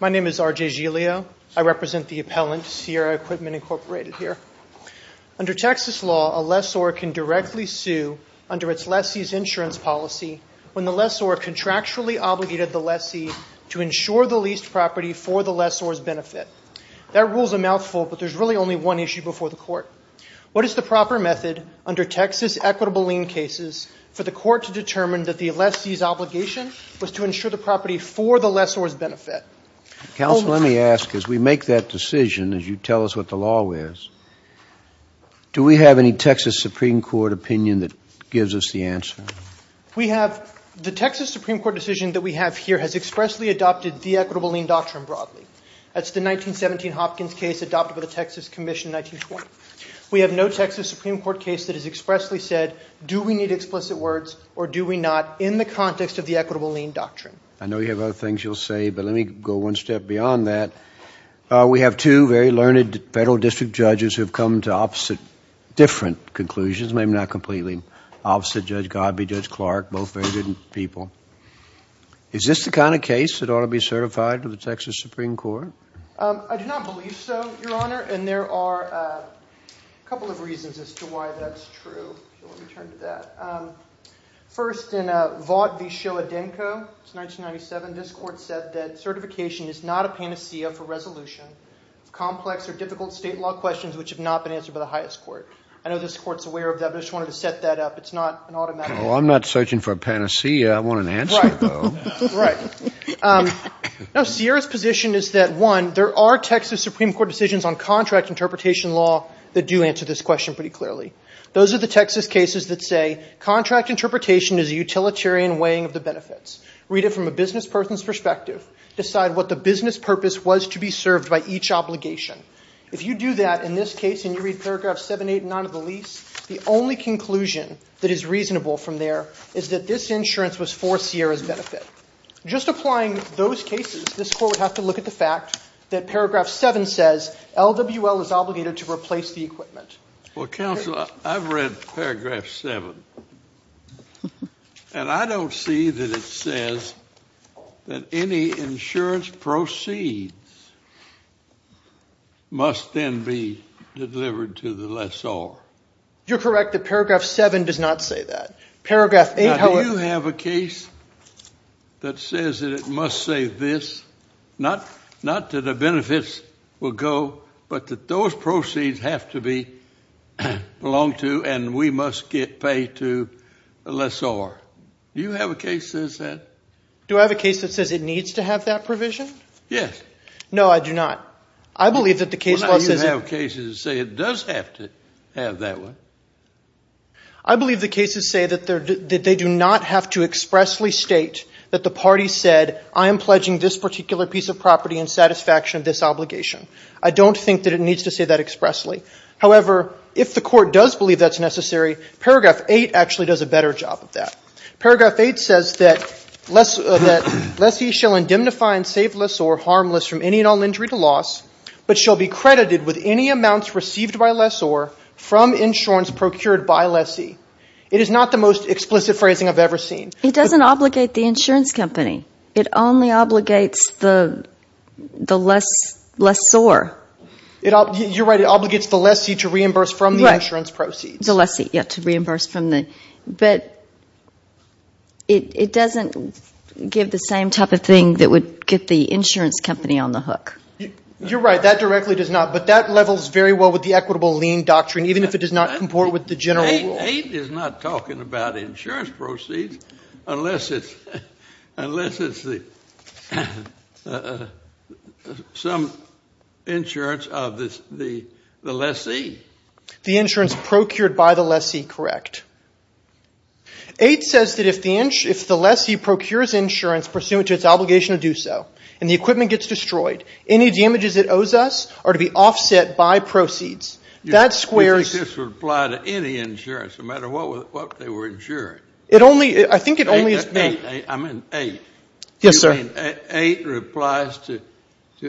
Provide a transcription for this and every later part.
My name is RJ Giglio. I represent the appellant Sierra Equipment, Incorporated here. Under Texas law, a lessor can directly sue under its lessee's insurance policy when the lessor contractually obligated the lessee to insure the leased property for the lessor's benefit. That rule is a mouthful, but there's really only one issue before the court. What is the proper method under Texas equitable lien cases for the court to determine that the lessee's obligation was to insure the property for the lessor's benefit? Counsel, let me ask, as we make that decision, as you tell us what the law is, do we have any Texas Supreme Court opinion that gives us the answer? We have, the Texas Supreme Court decision that we have here has expressly adopted the equitable lien doctrine broadly. That's the 1917 Hopkins case adopted by the Texas Commission in 1920. We have no Texas Supreme Court case that has expressly said, do we need explicit words, or do we not, in the context of the equitable lien doctrine? I know you have other things you'll say, but let me go one step beyond that. We have two very learned federal district judges who have come to opposite, different conclusions, maybe not completely opposite, Judge Godby, Judge Clark, both very good people. Is this the kind of case that ought to be certified to the Texas Supreme Court? I do not believe so, Your Honor, and there are a couple of reasons as to why that's true. First, in Vought v. Shoah-Denko, it's 1997, this court said that certification is not a panacea for resolution of complex or difficult state law questions which have not been answered by the highest court. I know this court's aware of that, but I just wanted to set that up. It's not an automatic answer. Well, I'm not searching for a panacea. I want an answer, though. Right. Now, Sierra's position is that, one, there are Texas Supreme Court decisions on contract interpretation law that do answer this question pretty clearly. Those are the Texas cases that say, contract interpretation is a utilitarian weighing of the benefits. Read it from a business person's perspective. Decide what the business purpose was to be served by each obligation. If you do that in this case and you read paragraph 789 of the lease, the only conclusion that is reasonable from there is that this insurance was for Sierra's benefit. Just applying those cases, this court would have to look at the fact that paragraph 7 says, LWL is obligated to replace the equipment. Well, counsel, I've read paragraph 7. And I don't see that it says that any insurance proceeds must then be delivered to the lessor. You're correct that paragraph 7 does not say that. Now, do you have a case that says that it must say this? Not that the benefits will go, but that those proceeds have to belong to and we must pay to the lessor. Do you have a case that says that? Do I have a case that says it needs to have that provision? Yes. No, I do not. I believe that the case law says that. Well, now you have cases that say it does have to have that one. I believe the cases say that they do not have to expressly state that the party said, I am pledging this particular piece of property in satisfaction of this obligation. I don't think that it needs to say that expressly. However, if the court does believe that's necessary, paragraph 8 actually does a better job of that. Paragraph 8 says that lessee shall indemnify and save lessor harmless from any and all injury to loss, but shall be credited with any amounts received by lessor from insurance procured by lessee. It is not the most explicit phrasing I've ever seen. It doesn't obligate the insurance company. It only obligates the lessor. You're right. It obligates the lessee to reimburse from the insurance proceeds. The lessee, yes, to reimburse from the – but it doesn't give the same type of thing that would get the insurance company on the hook. You're right. That directly does not, but that levels very well with the equitable lien doctrine, even if it does not comport with the general rule. But 8 is not talking about insurance proceeds unless it's some insurance of the lessee. The insurance procured by the lessee, correct. 8 says that if the lessee procures insurance pursuant to its obligation to do so and the equipment gets destroyed, any damages it owes us are to be offset by proceeds. That squares – You think this would apply to any insurance, no matter what they were insuring? It only – I think it only – I meant 8. Yes, sir. You mean 8 replies to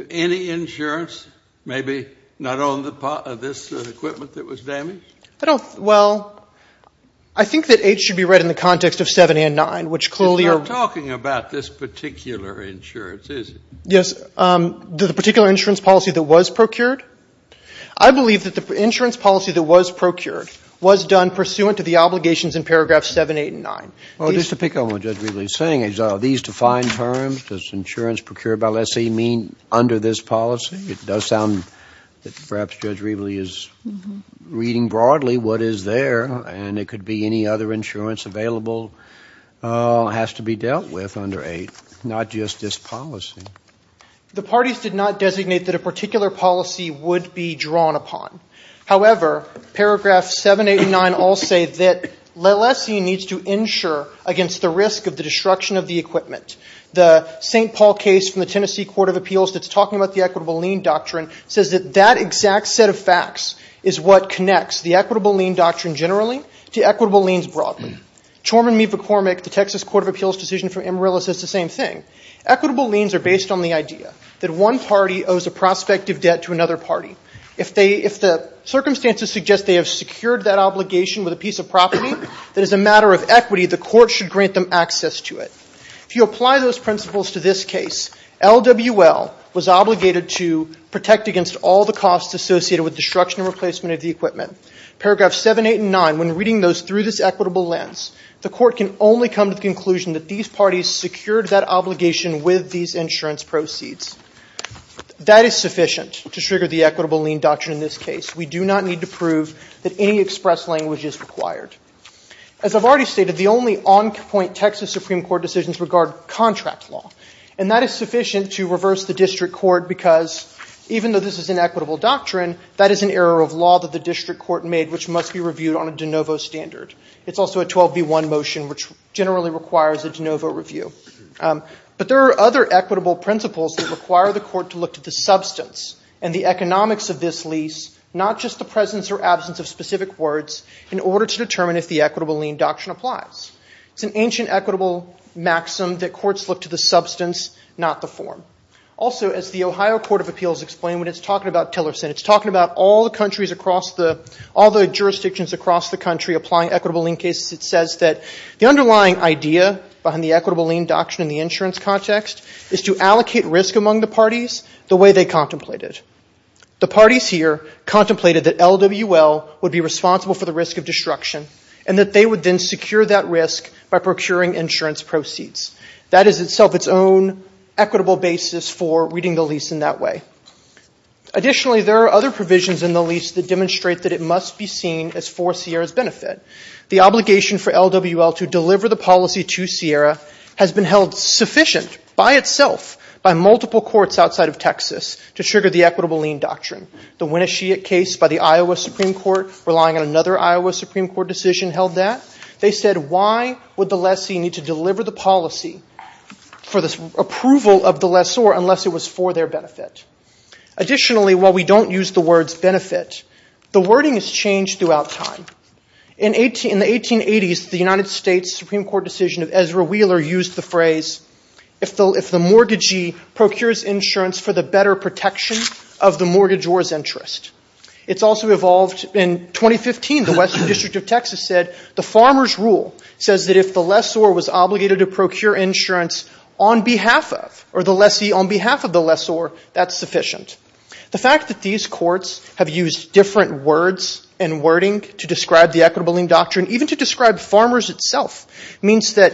any insurance, maybe not on this equipment that was damaged? I don't – well, I think that 8 should be read in the context of 7 and 9, which clearly are – It's not talking about this particular insurance, is it? Yes. The particular insurance policy that was procured? I believe that the insurance policy that was procured was done pursuant to the obligations in paragraphs 7, 8, and 9. Well, just to pick up on what Judge Riebley is saying, are these defined terms? Does insurance procured by lessee mean under this policy? It does sound that perhaps Judge Riebley is reading broadly what is there, and it could be any other insurance available has to be dealt with under 8, not just this policy. The parties did not designate that a particular policy would be drawn upon. However, paragraphs 7, 8, and 9 all say that lessee needs to insure against the risk of the destruction of the equipment. The St. Paul case from the Tennessee Court of Appeals that's talking about the equitable lien doctrine says that that exact set of facts is what connects the equitable lien doctrine generally to equitable liens broadly. Chorman v. McCormick, the Texas Court of Appeals decision from Amarillo, says the same thing. Equitable liens are based on the idea that one party owes a prospective debt to another party. If the circumstances suggest they have secured that obligation with a piece of property, that is a matter of equity, the court should grant them access to it. If you apply those principles to this case, LWL was obligated to protect against all the costs associated with destruction and replacement of the equipment. Paragraphs 7, 8, and 9, when reading those through this equitable lens, the court can only come to the conclusion that these parties secured that obligation with these insurance proceeds. That is sufficient to trigger the equitable lien doctrine in this case. We do not need to prove that any express language is required. As I've already stated, the only on-point Texas Supreme Court decisions regard contract law, and that is sufficient to reverse the district court because even though this is an equitable doctrine, that is an error of law that the district court made which must be reviewed on a de novo standard. It's also a 12B1 motion which generally requires a de novo review. But there are other equitable principles that require the court to look to the substance and the economics of this lease, not just the presence or absence of specific words, in order to determine if the equitable lien doctrine applies. It's an ancient equitable maxim that courts look to the substance, not the form. Also, as the Ohio Court of Appeals explained when it's talking about Tillerson, when it's talking about all the jurisdictions across the country applying equitable lien cases, it says that the underlying idea behind the equitable lien doctrine in the insurance context is to allocate risk among the parties the way they contemplated. The parties here contemplated that LWL would be responsible for the risk of destruction and that they would then secure that risk by procuring insurance proceeds. That is itself its own equitable basis for reading the lease in that way. Additionally, there are other provisions in the lease that demonstrate that it must be seen as for Sierra's benefit. The obligation for LWL to deliver the policy to Sierra has been held sufficient by itself by multiple courts outside of Texas to trigger the equitable lien doctrine. The Winnesheet case by the Iowa Supreme Court, relying on another Iowa Supreme Court decision, held that. They said why would the lessee need to deliver the policy for the approval of the lessor unless it was for their benefit? Additionally, while we don't use the words benefit, the wording has changed throughout time. In the 1880s, the United States Supreme Court decision of Ezra Wheeler used the phrase, if the mortgagee procures insurance for the better protection of the mortgagor's interest. It's also evolved in 2015. The Western District of Texas said the farmer's rule says that if the lessor was obligated to procure insurance on behalf of or the lessee on behalf of the lessor, that's sufficient. The fact that these courts have used different words and wording to describe the equitable lien doctrine, even to describe farmers itself, means that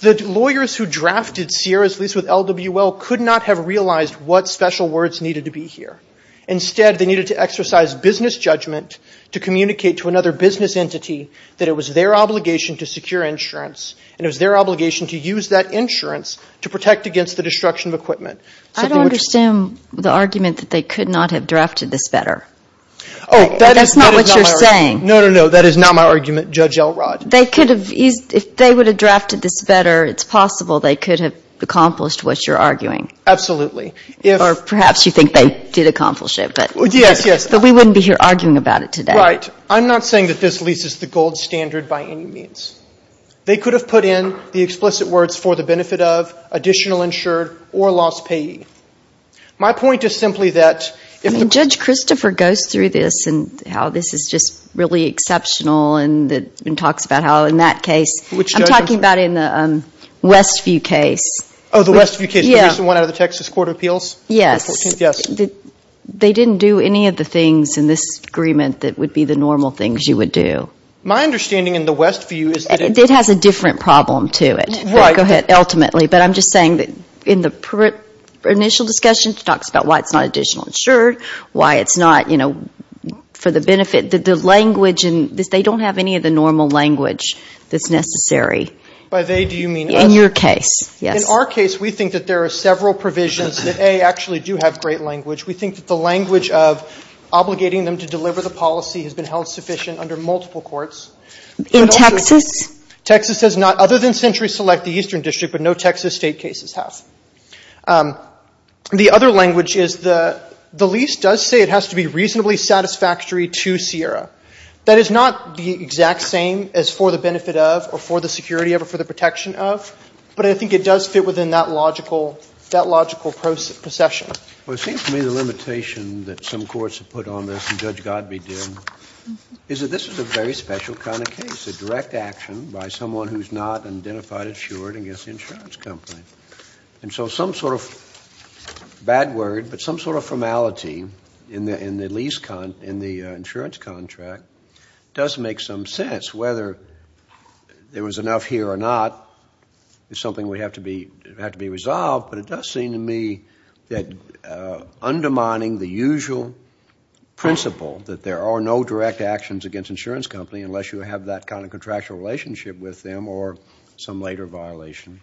the lawyers who drafted Sierra's lease with LWL could not have realized what special words needed to be here. Instead, they needed to exercise business judgment to communicate to another business entity that it was their obligation to secure insurance and it was their obligation to use that insurance to protect against the destruction of equipment. I don't understand the argument that they could not have drafted this better. Oh, that is not my argument. That's not what you're saying. No, no, no. That is not my argument, Judge Elrod. They could have, if they would have drafted this better, it's possible they could have accomplished what you're arguing. Absolutely. Or perhaps you think they did accomplish it. Yes, yes. But we wouldn't be here arguing about it today. You're right. I'm not saying that this lease is the gold standard by any means. They could have put in the explicit words, for the benefit of, additional insured, or lost payee. My point is simply that if the – I mean, Judge Christopher goes through this and how this is just really exceptional and talks about how in that case, I'm talking about in the Westview case. Oh, the Westview case, the recent one out of the Texas Court of Appeals? Yes. The 14th, yes. They didn't do any of the things in this agreement that would be the normal things you would do. My understanding in the Westview is that – It has a different problem to it. Go ahead. Ultimately. But I'm just saying that in the initial discussion, she talks about why it's not additional insured, why it's not, you know, for the benefit. The language, they don't have any of the normal language that's necessary. By they, do you mean us? In your case, yes. In our case, we think that there are several provisions that, A, actually do have great language. We think that the language of obligating them to deliver the policy has been held sufficient under multiple courts. In Texas? Texas does not, other than Century Select, the Eastern District, but no Texas State cases have. The other language is the lease does say it has to be reasonably satisfactory to CIERA. That is not the exact same as for the benefit of, or for the security of, or for the protection of, but I think it does fit within that logical procession. Well, it seems to me the limitation that some courts have put on this, and Judge Godbee did, is that this is a very special kind of case. A direct action by someone who's not identified insured against the insurance company. And so some sort of, bad word, but some sort of formality in the lease, in the insurance contract, does make some sense. Whether there was enough here or not is something that would have to be resolved, but it does seem to me that undermining the usual principle that there are no direct actions against insurance companies unless you have that kind of contractual relationship with them, or some later violation,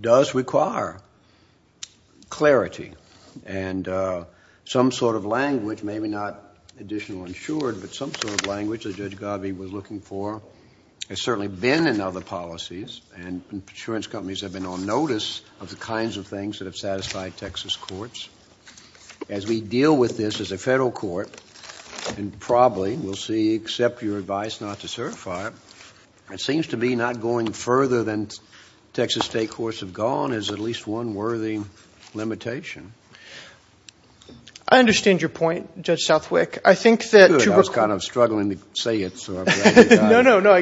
does require clarity. And some sort of language, maybe not additional insured, but some sort of language that Judge Godbee was looking for has certainly been in other policies, and insurance companies have been on notice of the kinds of things that have satisfied Texas courts. As we deal with this as a federal court, and probably we'll see, except your advice not to certify it, it seems to me not going further than Texas state courts have gone is at least one worthy limitation. I understand your point, Judge Southwick. I think that to require... Good, I was kind of struggling to say it, so I'm glad you got it. No, no, no,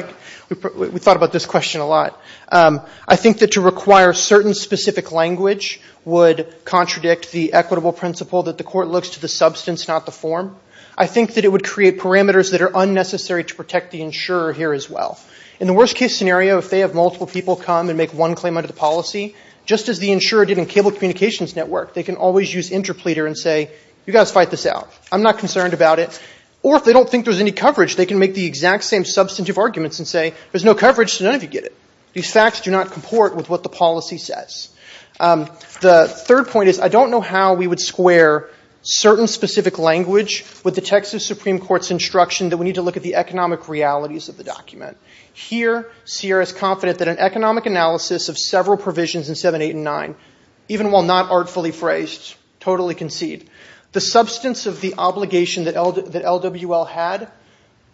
we thought about this question a lot. I think that to require certain specific language would contradict the equitable principle that the court looks to the substance, not the form. I think that it would create parameters that are unnecessary to protect the insurer here as well. In the worst case scenario, if they have multiple people come and make one claim under the policy, just as the insurer did in Cable Communications Network, they can always use interpleater and say, you guys fight this out. I'm not concerned about it. Or if they don't think there's any coverage, they can make the exact same substantive arguments and say, there's no coverage, so none of you get it. These facts do not comport with what the policy says. The third point is, I don't know how we would square certain specific language with the Texas Supreme Court's instruction that we need to look at the economic realities of the document. Here, Sierra is confident that an economic analysis of several provisions in 7, 8, and 9, even while not artfully phrased, totally concede, the substance of the obligation that LWL had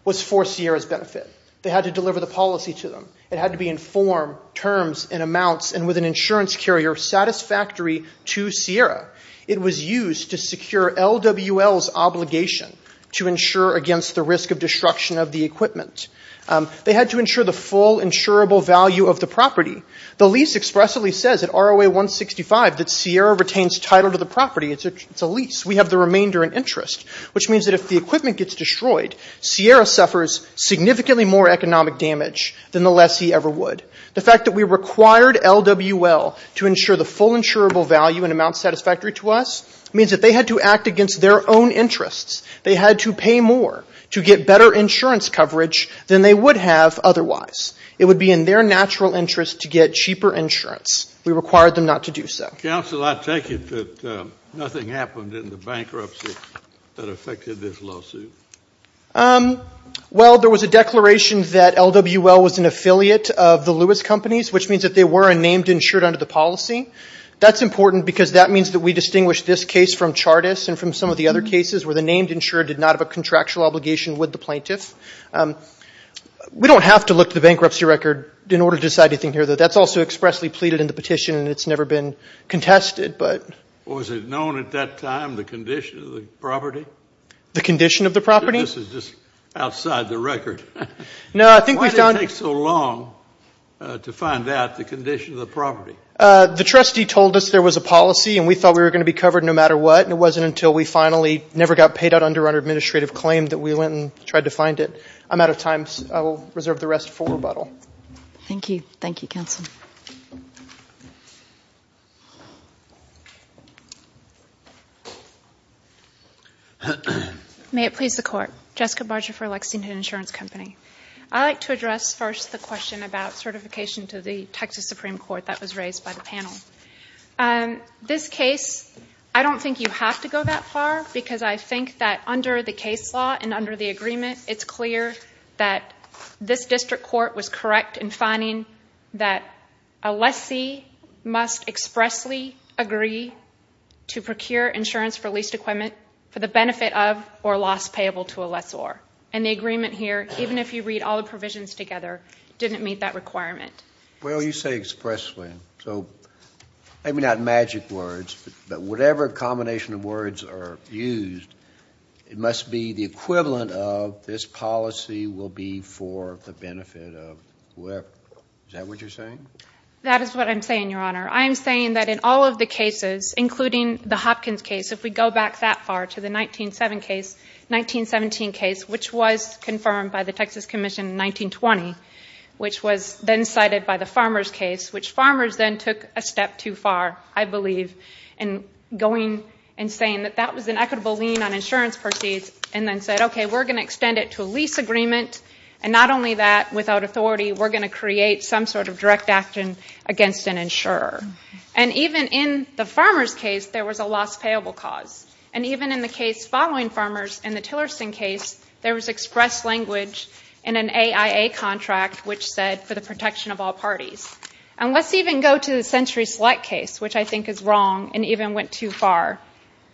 was for Sierra's benefit. They had to deliver the policy to them. It had to be in form, terms, and amounts, and with an insurance carrier satisfactory to Sierra. It was used to secure LWL's obligation to insure against the risk of destruction of the equipment. They had to insure the full insurable value of the property. The lease expressly says at ROA 165 that Sierra retains title to the property. It's a lease. We have the remainder in interest, which means that if the equipment gets destroyed, Sierra suffers significantly more economic damage than the lessee ever would. The fact that we required LWL to insure the full insurable value and amount satisfactory to us means that they had to act against their own interests. They had to pay more to get better insurance coverage than they would have otherwise. It would be in their natural interest to get cheaper insurance. We required them not to do so. Counsel, I take it that nothing happened in the bankruptcy that affected this lawsuit? Well, there was a declaration that LWL was an affiliate of the Lewis Companies, which means that they were a named insured under the policy. That's important because that means that we distinguish this case from Chartist and from some of the other cases where the named insured did not have a contractual obligation with the plaintiff. We don't have to look at the bankruptcy record in order to decide anything here, though. That's also expressly pleaded in the petition, and it's never been contested. Was it known at that time the condition of the property? The condition of the property? This is just outside the record. Why did it take so long to find out the condition of the property? The trustee told us there was a policy, and we thought we were going to be covered no matter what. It wasn't until we finally never got paid out under our administrative claim that we went and tried to find it. I'm out of time. I will reserve the rest for rebuttal. Thank you. Thank you, Counsel. May it please the Court. Jessica Barger for Lexington Insurance Company. I'd like to address first the question about certification to the Texas Supreme Court that was raised by the panel. This case, I don't think you have to go that far because I think that under the case law and under the agreement, it's clear that this district court was correct in finding that a lessee must expressly agree to procure insurance for leased equipment for the benefit of or loss payable to a lessor. And the agreement here, even if you read all the provisions together, didn't meet that requirement. Well, you say expressly, so maybe not magic words, but whatever combination of words are used, it must be the equivalent of this policy will be for the benefit of whoever. Is that what you're saying? That is what I'm saying, Your Honor. I am saying that in all of the cases, including the Hopkins case, if we go back that far to the 1917 case, which was confirmed by the Texas Commission in 1920, which was then cited by the Farmers case, which Farmers then took a step too far, I believe, in going and saying that that was an equitable lien on insurance proceeds and then said, okay, we're going to extend it to a lease agreement. And not only that, without authority, we're going to create some sort of direct action against an insurer. And even in the Farmers case, there was a loss payable cause. And even in the case following Farmers, in the Tillerson case, there was expressed language in an AIA contract which said for the protection of all parties. And let's even go to the Century Select case, which I think is wrong and even went too far.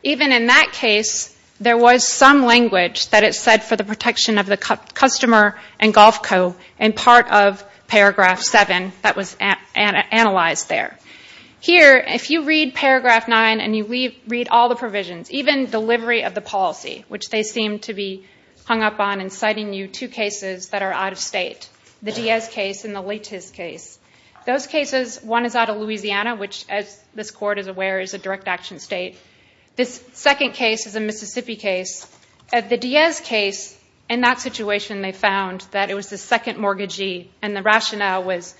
Even in that case, there was some language that it said for the protection of the customer and Golf Co. and part of Paragraph 7 that was analyzed there. Here, if you read Paragraph 9 and you read all the provisions, even delivery of the policy, which they seem to be hung up on in citing you two cases that are out of state, the Diaz case and the Litez case. Those cases, one is out of Louisiana, which as this Court is aware is a direct action state. This second case is a Mississippi case. The Diaz case, in that situation, they found that it was the second mortgagee and the rationale was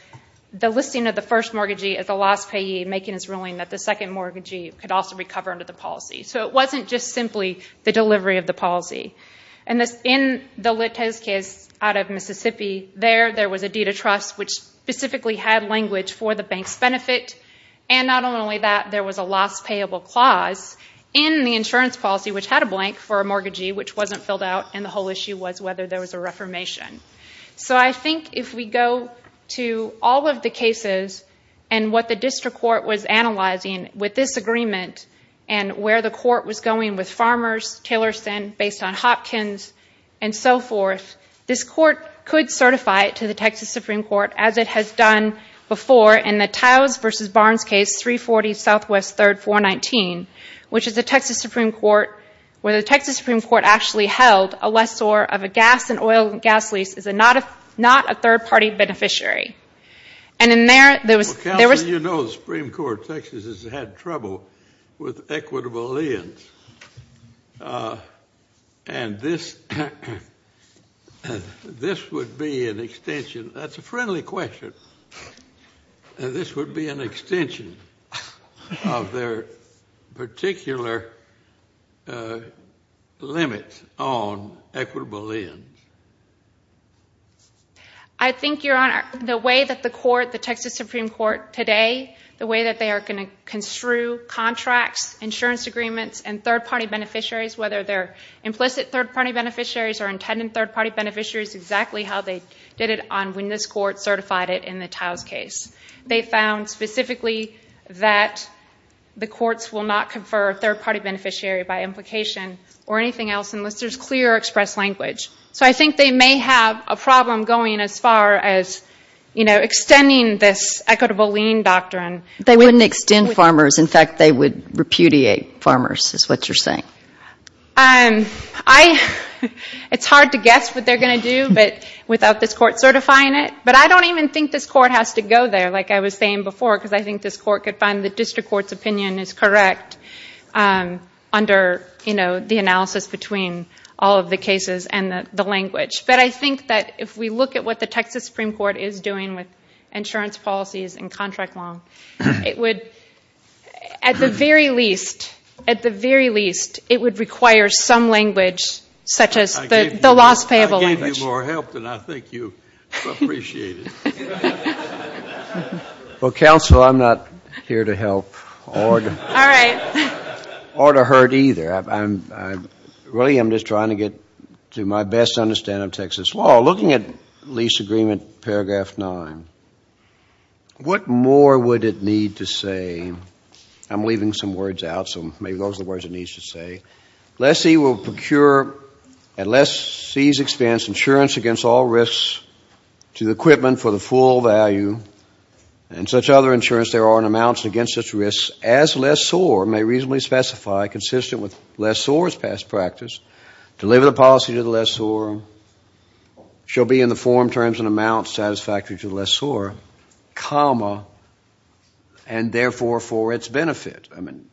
the listing of the first mortgagee as a lost payee making its ruling that the second mortgagee could also recover under the policy. So it wasn't just simply the delivery of the policy. In the Litez case out of Mississippi, there was a deed of trust which specifically had language for the bank's benefit and not only that, there was a lost payable clause in the insurance policy which had a blank for a mortgagee which wasn't filled out and the whole issue was whether there was a reformation. So I think if we go to all of the cases and what the District Court was analyzing with this agreement and where the Court was going with farmers, Taylorson based on Hopkins and so forth, this Court could certify it to the Texas Supreme Court as it has done before in the Towes v. Barnes case 340 Southwest 3rd 419 which is the Texas Supreme Court where the Texas Supreme Court actually held a lessor of a gas and oil gas lease is not a third party beneficiary. And in there, there was... Well, you know the Supreme Court of Texas has had trouble with equitable ends. And this would be an extension. That's a friendly question. This would be an extension of their particular limit on equitable ends. I think, Your Honor, the way that the court, the Texas Supreme Court today, the way that they are going to construe contracts, insurance agreements, and third party beneficiaries, whether they're implicit third party beneficiaries or intended third party beneficiaries, exactly how they did it on when this Court certified it in the Towes case. They found specifically that the courts will not confer a third party beneficiary by implication or anything else unless there's clear express language. So I think they may have a problem going as far as extending this equitable lien doctrine. They wouldn't extend farmers. In fact, they would repudiate farmers is what you're saying. It's hard to guess what they're going to do without this Court certifying it. But I don't even think this Court has to go there, like I was saying before, because I think this Court could find the district court's opinion is correct under the analysis between all of the cases and the language. But I think that if we look at what the Texas Supreme Court is doing with insurance policies and contract law, it would, at the very least, at the very least, it would require some language such as the loss payable language. I gave you more help than I think you appreciated. Well, counsel, I'm not here to help or to hurt either. Really, I'm just trying to get to my best understanding of Texas law. Well, looking at lease agreement paragraph 9, what more would it need to say? I'm leaving some words out, so maybe those are the words it needs to say. Lessee will procure at lessee's expense insurance against all risks to the equipment for the full value, and such other insurance there are in amounts against such risks as lessor may reasonably specify consistent with lessor's past practice, deliver the policy to the lessor, shall be in the form, terms, and amounts satisfactory to the lessor, comma, and therefore for its benefit. I mean,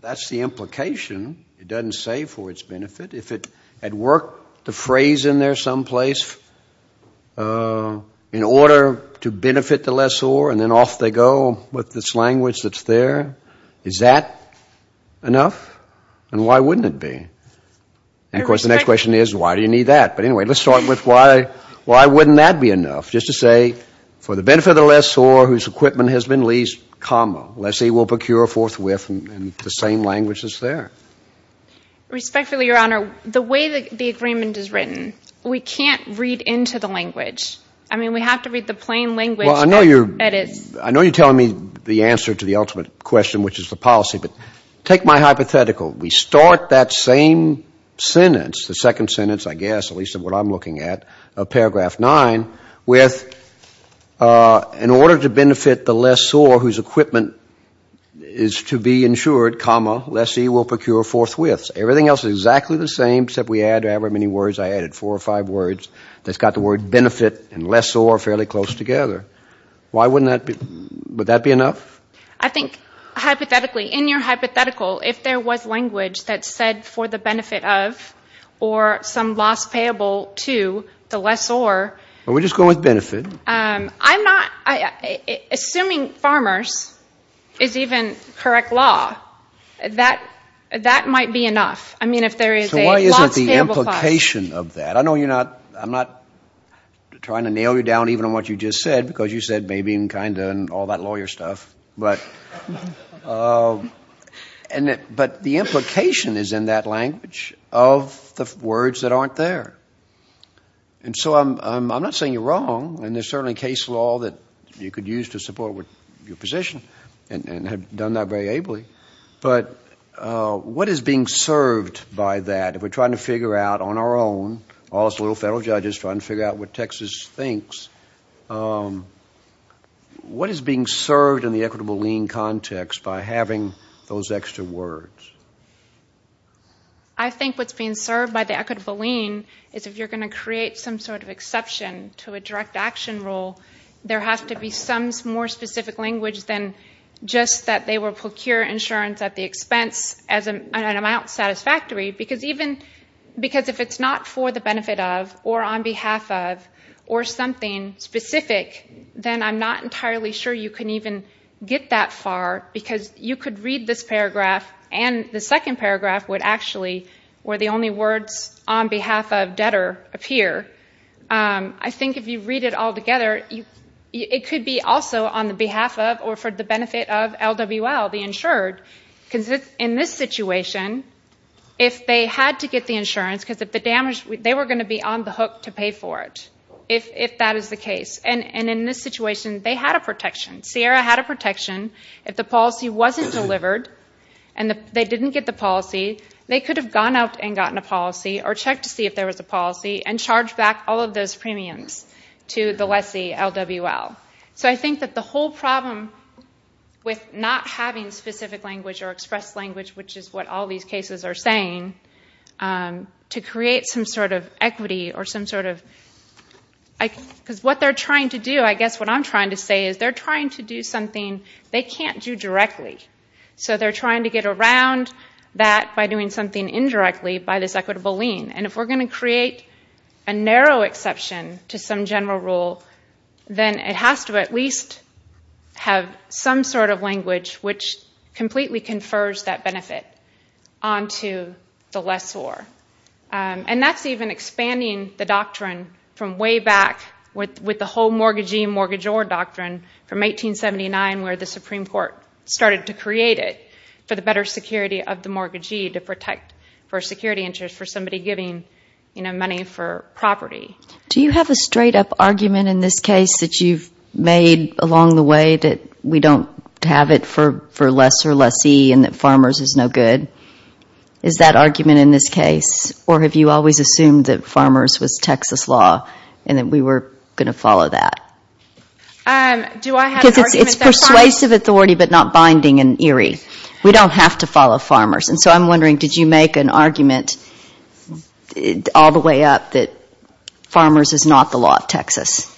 that's the implication. It doesn't say for its benefit. If it had worked the phrase in there someplace in order to benefit the lessor, and then off they go with this language that's there, is that enough? And why wouldn't it be? And of course, the next question is, why do you need that? But anyway, let's start with why wouldn't that be enough? Just to say, for the benefit of the lessor whose equipment has been leased, comma, lessee will procure forthwith in the same language as there. Respectfully, Your Honor, the way the agreement is written, we can't read into the language. I mean, we have to read the plain language that it is. I know you're telling me the answer to the ultimate question, which is the policy, but take my hypothetical. We start that same sentence, the second sentence, I guess, at least of what I'm looking at, of paragraph 9, with, in order to benefit the lessor, whose equipment is to be insured, comma, lessee will procure forthwith. Everything else is exactly the same, except we add however many words. I added four or five words. That's got the word benefit and lessor fairly close together. Why wouldn't that be, would that be enough? I think, hypothetically, in your hypothetical, if there was language that said for the benefit of or some loss payable to the lessor. We're just going with benefit. I'm not, assuming farmers is even correct law, that might be enough. I mean, if there is a loss payable clause. The implication of that, I know you're not, I'm not trying to nail you down even on what you just said, because you said maybe and kinda and all that lawyer stuff, but the implication is in that language of the words that aren't there. And so I'm not saying you're wrong, and there's certainly case law that you could use to support your position and have done that very ably, but what is being served by that, if we're trying to figure out on our own, all us little federal judges trying to figure out what Texas thinks, what is being served in the equitable lien context by having those extra words? I think what's being served by the equitable lien is if you're going to create some sort of exception to a direct action rule, there has to be some more specific language than just that they will procure insurance at the expense of an amount satisfactory, because if it's not for the benefit of, or on behalf of, or something specific, then I'm not entirely sure you can even get that far, because you could read this paragraph, and the second paragraph would actually, where the only words on behalf of debtor appear, I think if you read it all together, it could be also on the behalf of, or for the benefit of LWL, the insured, because in this situation, if they had to get the insurance, because they were going to be on the hook to pay for it, if that is the case, and in this situation, they had a protection. Sierra had a protection. If the policy wasn't delivered, and they didn't get the policy, they could have gone out and gotten a policy, or checked to see if there was a policy, and charged back all of those premiums to the lessee, LWL. So I think that the whole problem with not having specific language or expressed language, which is what all these cases are saying, to create some sort of equity, because what they're trying to do, I guess what I'm trying to say, is they're trying to do something they can't do directly. So they're trying to get around that by doing something indirectly by this equitable lien. And if we're going to create a narrow exception to some general rule, then it has to at least have some sort of language which completely confers that benefit onto the lessor. And that's even expanding the doctrine from way back with the whole mortgagee and mortgagor doctrine from 1879 where the Supreme Court started to create it for the better security of the mortgagee to protect for security interest for somebody giving money for property. Do you have a straight up argument in this case that you've made along the way that we don't have it for lessor lessee and that farmers is no good? Is that argument in this case? Or have you always assumed that farmers was Texas law and that we were going to follow that? Because it's persuasive authority, but not binding and eerie. We don't have to follow farmers. And so I'm wondering, did you make an argument all the way up that farmers is not the law of Texas?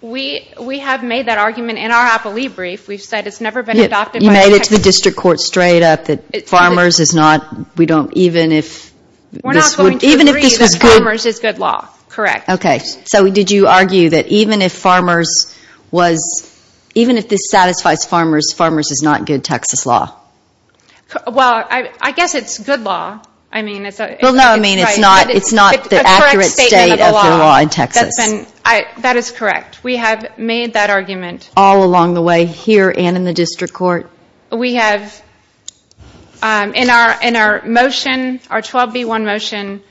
We have made that argument in our appellee brief. We've said it's never been adopted by Texas. You made it to the district court straight up that even if this was good... We're not going to agree that farmers is good law. Correct. So did you argue that even if this satisfies farmers, farmers is not good Texas law? Well, I guess it's good law. No, I mean it's not the accurate state of the law in Texas. That is correct. We have made that argument all along the way, here and in the district court. In our motion, our 12B1 motion,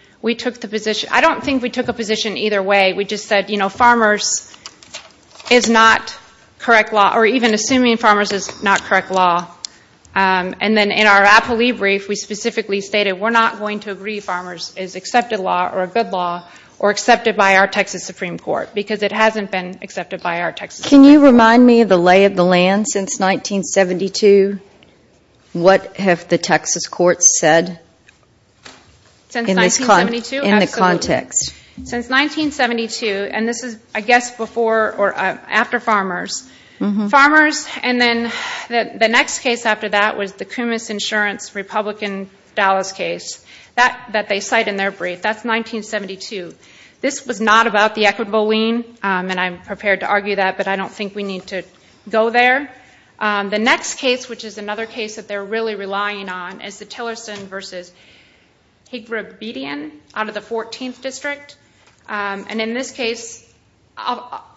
I don't think we took a position either way. We just said farmers is not correct law or even assuming farmers is not correct law. And then in our appellee brief, we specifically stated we're not going to agree that farmers is accepted law or a good law or accepted by our Texas Supreme Court because it hasn't been accepted by our Texas Supreme Court. Can you remind me of the lay of the land since 1972? What have the Texas courts said? Since 1972? Absolutely. In the context. Since 1972, and this is I guess before or after farmers. And then the next case after that was the Kumis Insurance Republican Dallas case that they cite in their brief. That's 1972. This was not about the equitable lien, and I'm prepared to argue that, but I don't think we need to go there. The next case, which is another case that they're really relying on, is the Tillerson v. Higribedian out of the 14th district. And in this case,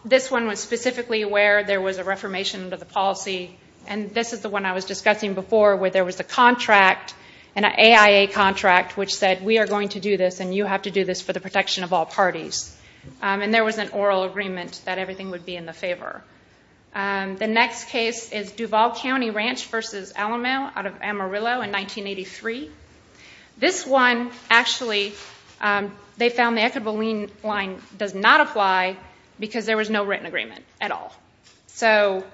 this one was specifically where there was a reformation of the policy, and this is the one I was discussing before where there was a contract, an AIA contract, which said we are going to do this and you have to do this for the protection of all parties. And there was an oral agreement that everything would be in the favor. The next case is Duval County Ranch v. Alamo out of Amarillo in 1983. This one, actually, they found the equitable lien does not apply because there was no written agreement at all. So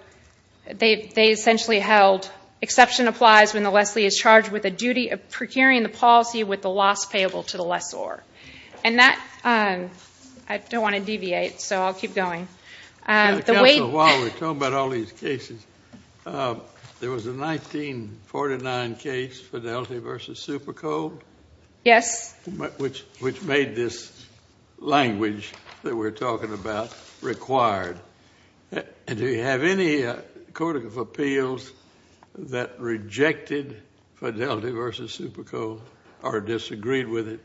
they essentially held exception applies when the lessee is charged with a duty of procuring the policy with the loss payable to the lessor. I don't want to deviate, so I'll keep going. Counsel, while we're talking about all these cases, there was a 1949 case, Fidelity v. Super Code, which made this language that we're talking about required. Do you have any Court of Appeals that rejected Fidelity v. Super Code or disagreed with it?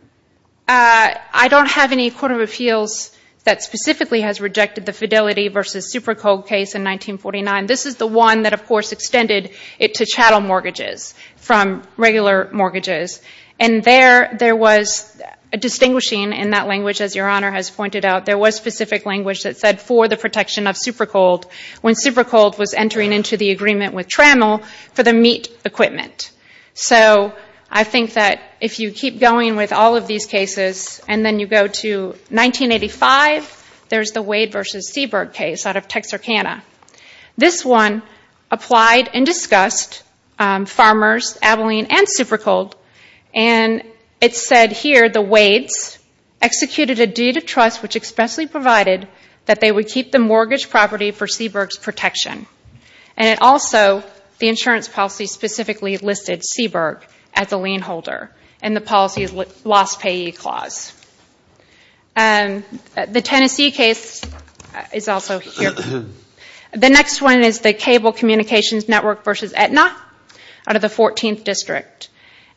I don't have any Court of Appeals that specifically has rejected the Fidelity v. Super Code case in 1949. This is the one that, of course, extended it to chattel mortgages from regular mortgages. There was a distinguishing in that language, as Your Honor has pointed out, there was specific language that said for the protection of Super Code when Super Code was entering into the agreement with Trammell for the meat equipment. So I think that if you keep going with all of these cases and then you go to 1985, there's the Wade v. Seberg case out of Texarkana. This one applied and discussed Farmers, Abilene, and Super Code and it said here the Wades executed a deed of trust which expressly provided that they would keep the mortgage property for Seberg's protection. And it also, the insurance policy specifically listed Seberg as the lien holder in the policy's lost payee clause. The Tennessee case is also here. The next one is the Cable Communications Network v. Aetna out of the 14th District.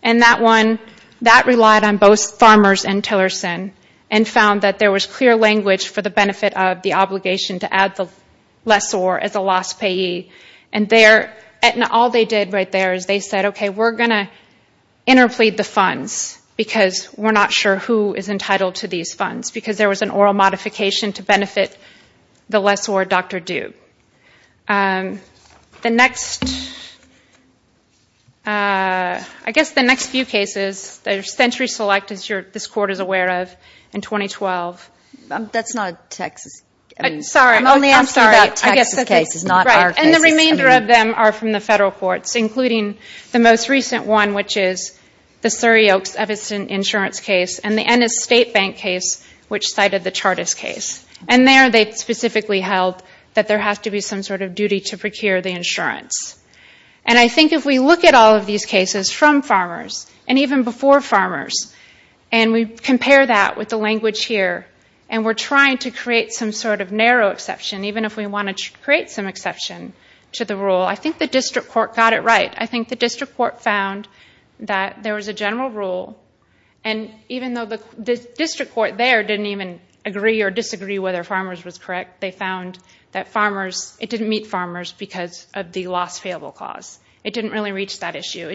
That relied on both Farmers and Tillerson and found that there was clear language for the benefit of the obligation to add the lessor as the lost payee. All they did right there is they said, okay, we're going to interplead the funds because we're not sure who is entitled to these funds because there was an oral modification to benefit the lessor, Dr. Duke. The next few cases are Century Select, as this Court is aware of in 2012. I'm sorry, I'm sorry. And the remainder of them are from the federal courts including the most recent one which is the Surry Oaks Eviston insurance case and the Ennis State Bank case which cited the Chartist case. And there they specifically held that there has to be some sort of duty to procure the insurance. And I think if we look at all of these cases from Farmers and even before Farmers, and we compare that with the language here, and we're trying to create some sort of narrow exception, even if we want to create some exception to the rule, I think the District Court got it right. But I think the District Court found that there was a general rule and even though the District Court there didn't even agree or disagree whether Farmers was correct, they found that it didn't meet Farmers because of the loss payable clause. It didn't really reach that issue.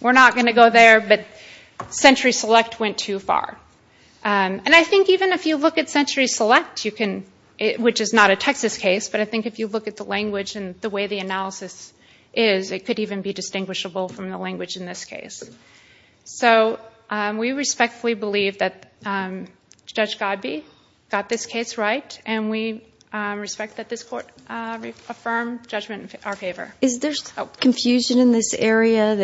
We're not going to go there, but Century Select went too far. And I think even if you look at Century Select which is not a Texas case, but I think if you look at the language and the way the analysis is, it could even be distinguishable from the language in this case. So we respectfully believe that Judge Godbee got this case right and we respect that this Court affirm judgment in our favor. Is there confusion in this area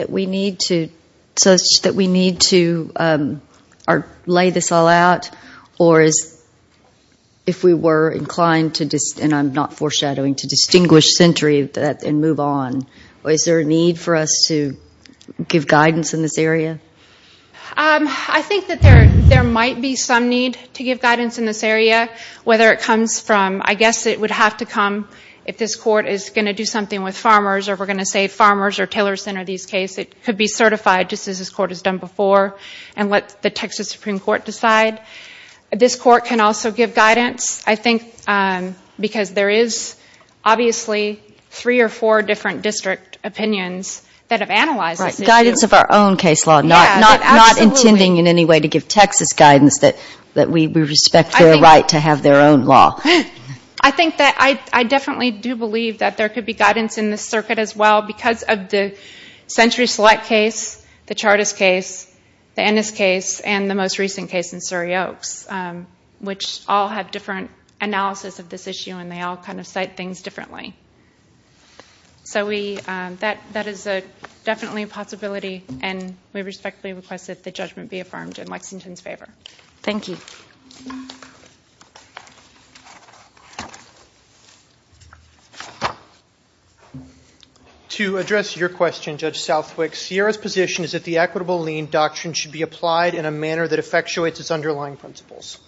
such that we need to lay this all out or if we were inclined and I'm not foreshadowing, to distinguish Century and move on, is there a need for us to give guidance in this area? I think that there might be some need to give guidance in this area, whether it comes from I guess it would have to come if this Court is going to do something with Farmers or if we're going to say Farmers or Tillerson or these cases it could be certified just as this Court has done before and let the Texas Supreme Court decide. This Court can also give guidance because there is obviously three or four different district opinions that have analyzed this issue. Guidance of our own case law, not intending in any way to give Texas guidance that we respect their right to have their own law. I definitely do believe that there could be guidance in this circuit as well because of the Century Select case, the Chartist case the Ennis case and the most recent case in Surry Oaks which all have different analysis of this issue and they all kind of cite things differently. So that is definitely a possibility and we respectfully request that the judgment be affirmed in Lexington's favor. Thank you. To address your question, Judge Southwick Sierra's position is that the Equitable Lien Doctrine should be applied in a manner that effectuates its underlying principles.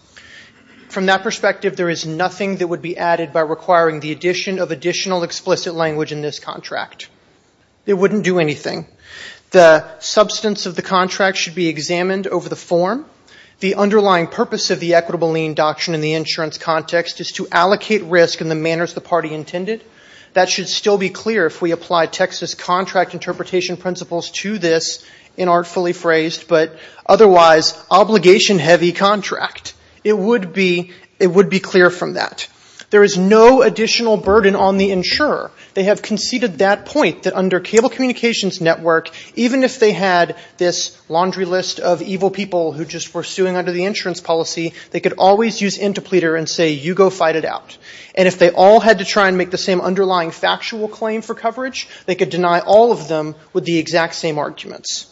From that perspective, there is nothing that would be added by requiring the addition of additional explicit language in this contract. It wouldn't do anything. The substance of the contract should be examined over the form. The underlying purpose of the Equitable Lien Doctrine in the insurance context is to allocate risk in the manners the party intended. That should still be clear if we apply Texas contract interpretation principles to this in artfully phrased but otherwise obligation heavy contract. It would be clear from that. There is no additional burden on the insurer. They have conceded that point that under cable communications network even if they had this laundry list of evil people who just were suing under the insurance policy they could always use interpleater and say you go fight it out. If they all had to try and make the same underlying factual claim for coverage they could deny all of them with the exact same arguments.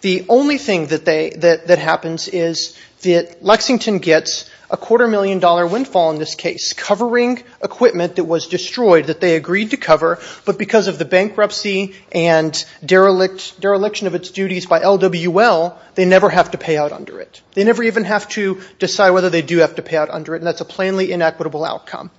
The only thing that happens is that Lexington gets a quarter million dollar windfall in this case covering equipment that was destroyed that they agreed to cover but because of the bankruptcy and dereliction of its duties by LWL they never have to pay out under it. They never even have to decide whether they do have to pay out under it and that's a plainly inequitable outcome.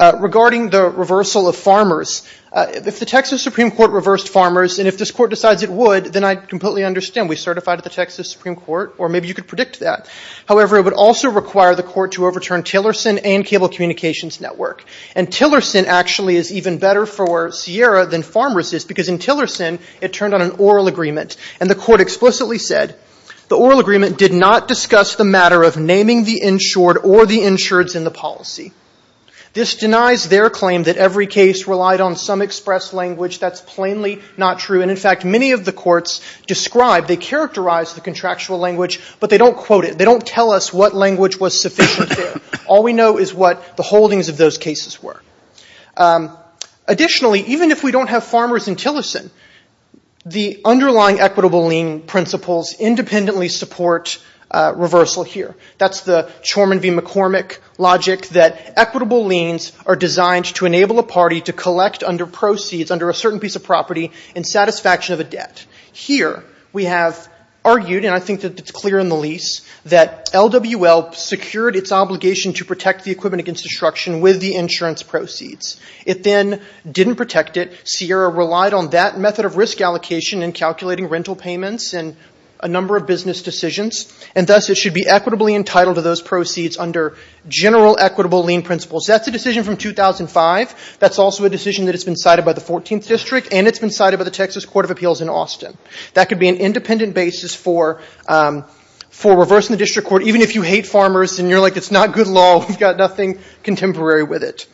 Regarding the reversal of farmers if the Texas Supreme Court reversed farmers and if this court decides it would then I completely understand. We certified at the Texas Supreme Court or maybe you could predict that. However, it would also require the court to overturn Tillerson and cable communications network. And Tillerson actually is even better for Sierra than Farmers is because in Tillerson it turned on an oral agreement and the court explicitly said the oral agreement did not discuss the matter of naming the insured or the insureds in the policy. This denies their claim that every case relied on some express language that's plainly not true and in fact many of the courts describe they characterize the contractual language but they don't quote it they don't tell us what language was sufficient there. All we know is what the holdings of those cases were. Additionally, even if we don't have farmers in Tillerson the underlying equitable lien principles independently support reversal here. That's the Chorman v. McCormick logic that equitable liens are designed to enable a party to collect under proceeds under a certain piece of property in satisfaction of a debt. Here we have argued and I think it's clear in the lease that LWL secured its obligation to protect the equipment against destruction with the insurance proceeds. It then didn't protect it. Sierra relied on that method of risk allocation in calculating rental payments and a number of business decisions and thus it should be equitably entitled to those proceeds under general equitable lien principles. That's a decision from 2005. That's also a decision that's been cited by the 14th district and it's been cited by the Texas Court of Appeals in Austin. That could be an independent basis for reversing the district court but even if you hate farmers and you're like it's not good law we've got nothing contemporary with it.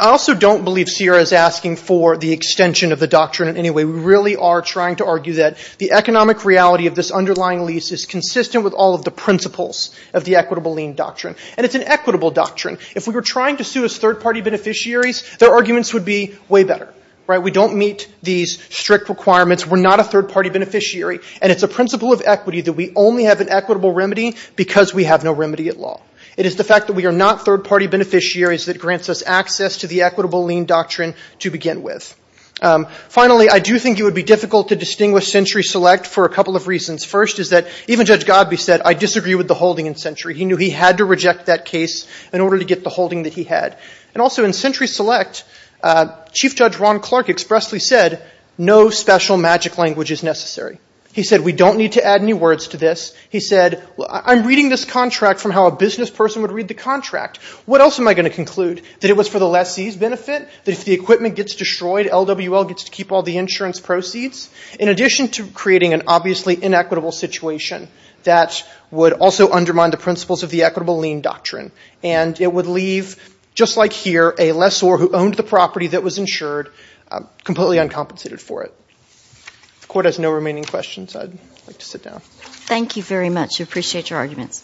I also don't believe Sierra is asking for the extension of the doctrine in any way. We really are trying to argue that the economic reality of this underlying lease is consistent with all of the principles of the equitable lien doctrine and it's an equitable doctrine. If we were trying to sue as third party beneficiaries their arguments would be way better. We don't meet these strict requirements. We're not a third party beneficiary and it's a principle of equity that we only have an equitable remedy because we have no remedy at law. It is the fact that we are not third party beneficiaries that grants us access to the equitable lien doctrine to begin with. Finally, I do think it would be difficult to distinguish Century Select for a couple of reasons. First is that even Judge Godby said I disagree with the holding in Century. He knew he had to reject that case in order to get the holding that he had. Also, in Century Select, Chief Judge Ron Clark expressly said no special magic language is necessary. He said we don't need to add any words to this. He said I'm reading this contract from how a business person would read the contract. What else am I going to conclude? That it was for the lessee's benefit? That if the equipment gets destroyed, LWL gets to keep all the insurance proceeds? In addition to creating an obviously inequitable situation that would also undermine the principles of the equitable lien doctrine and it would leave, just like here, a lessor who owned the property that was insured completely uncompensated for it. If the Court has no remaining questions, I'd like to sit down. Thank you very much. I appreciate your arguments.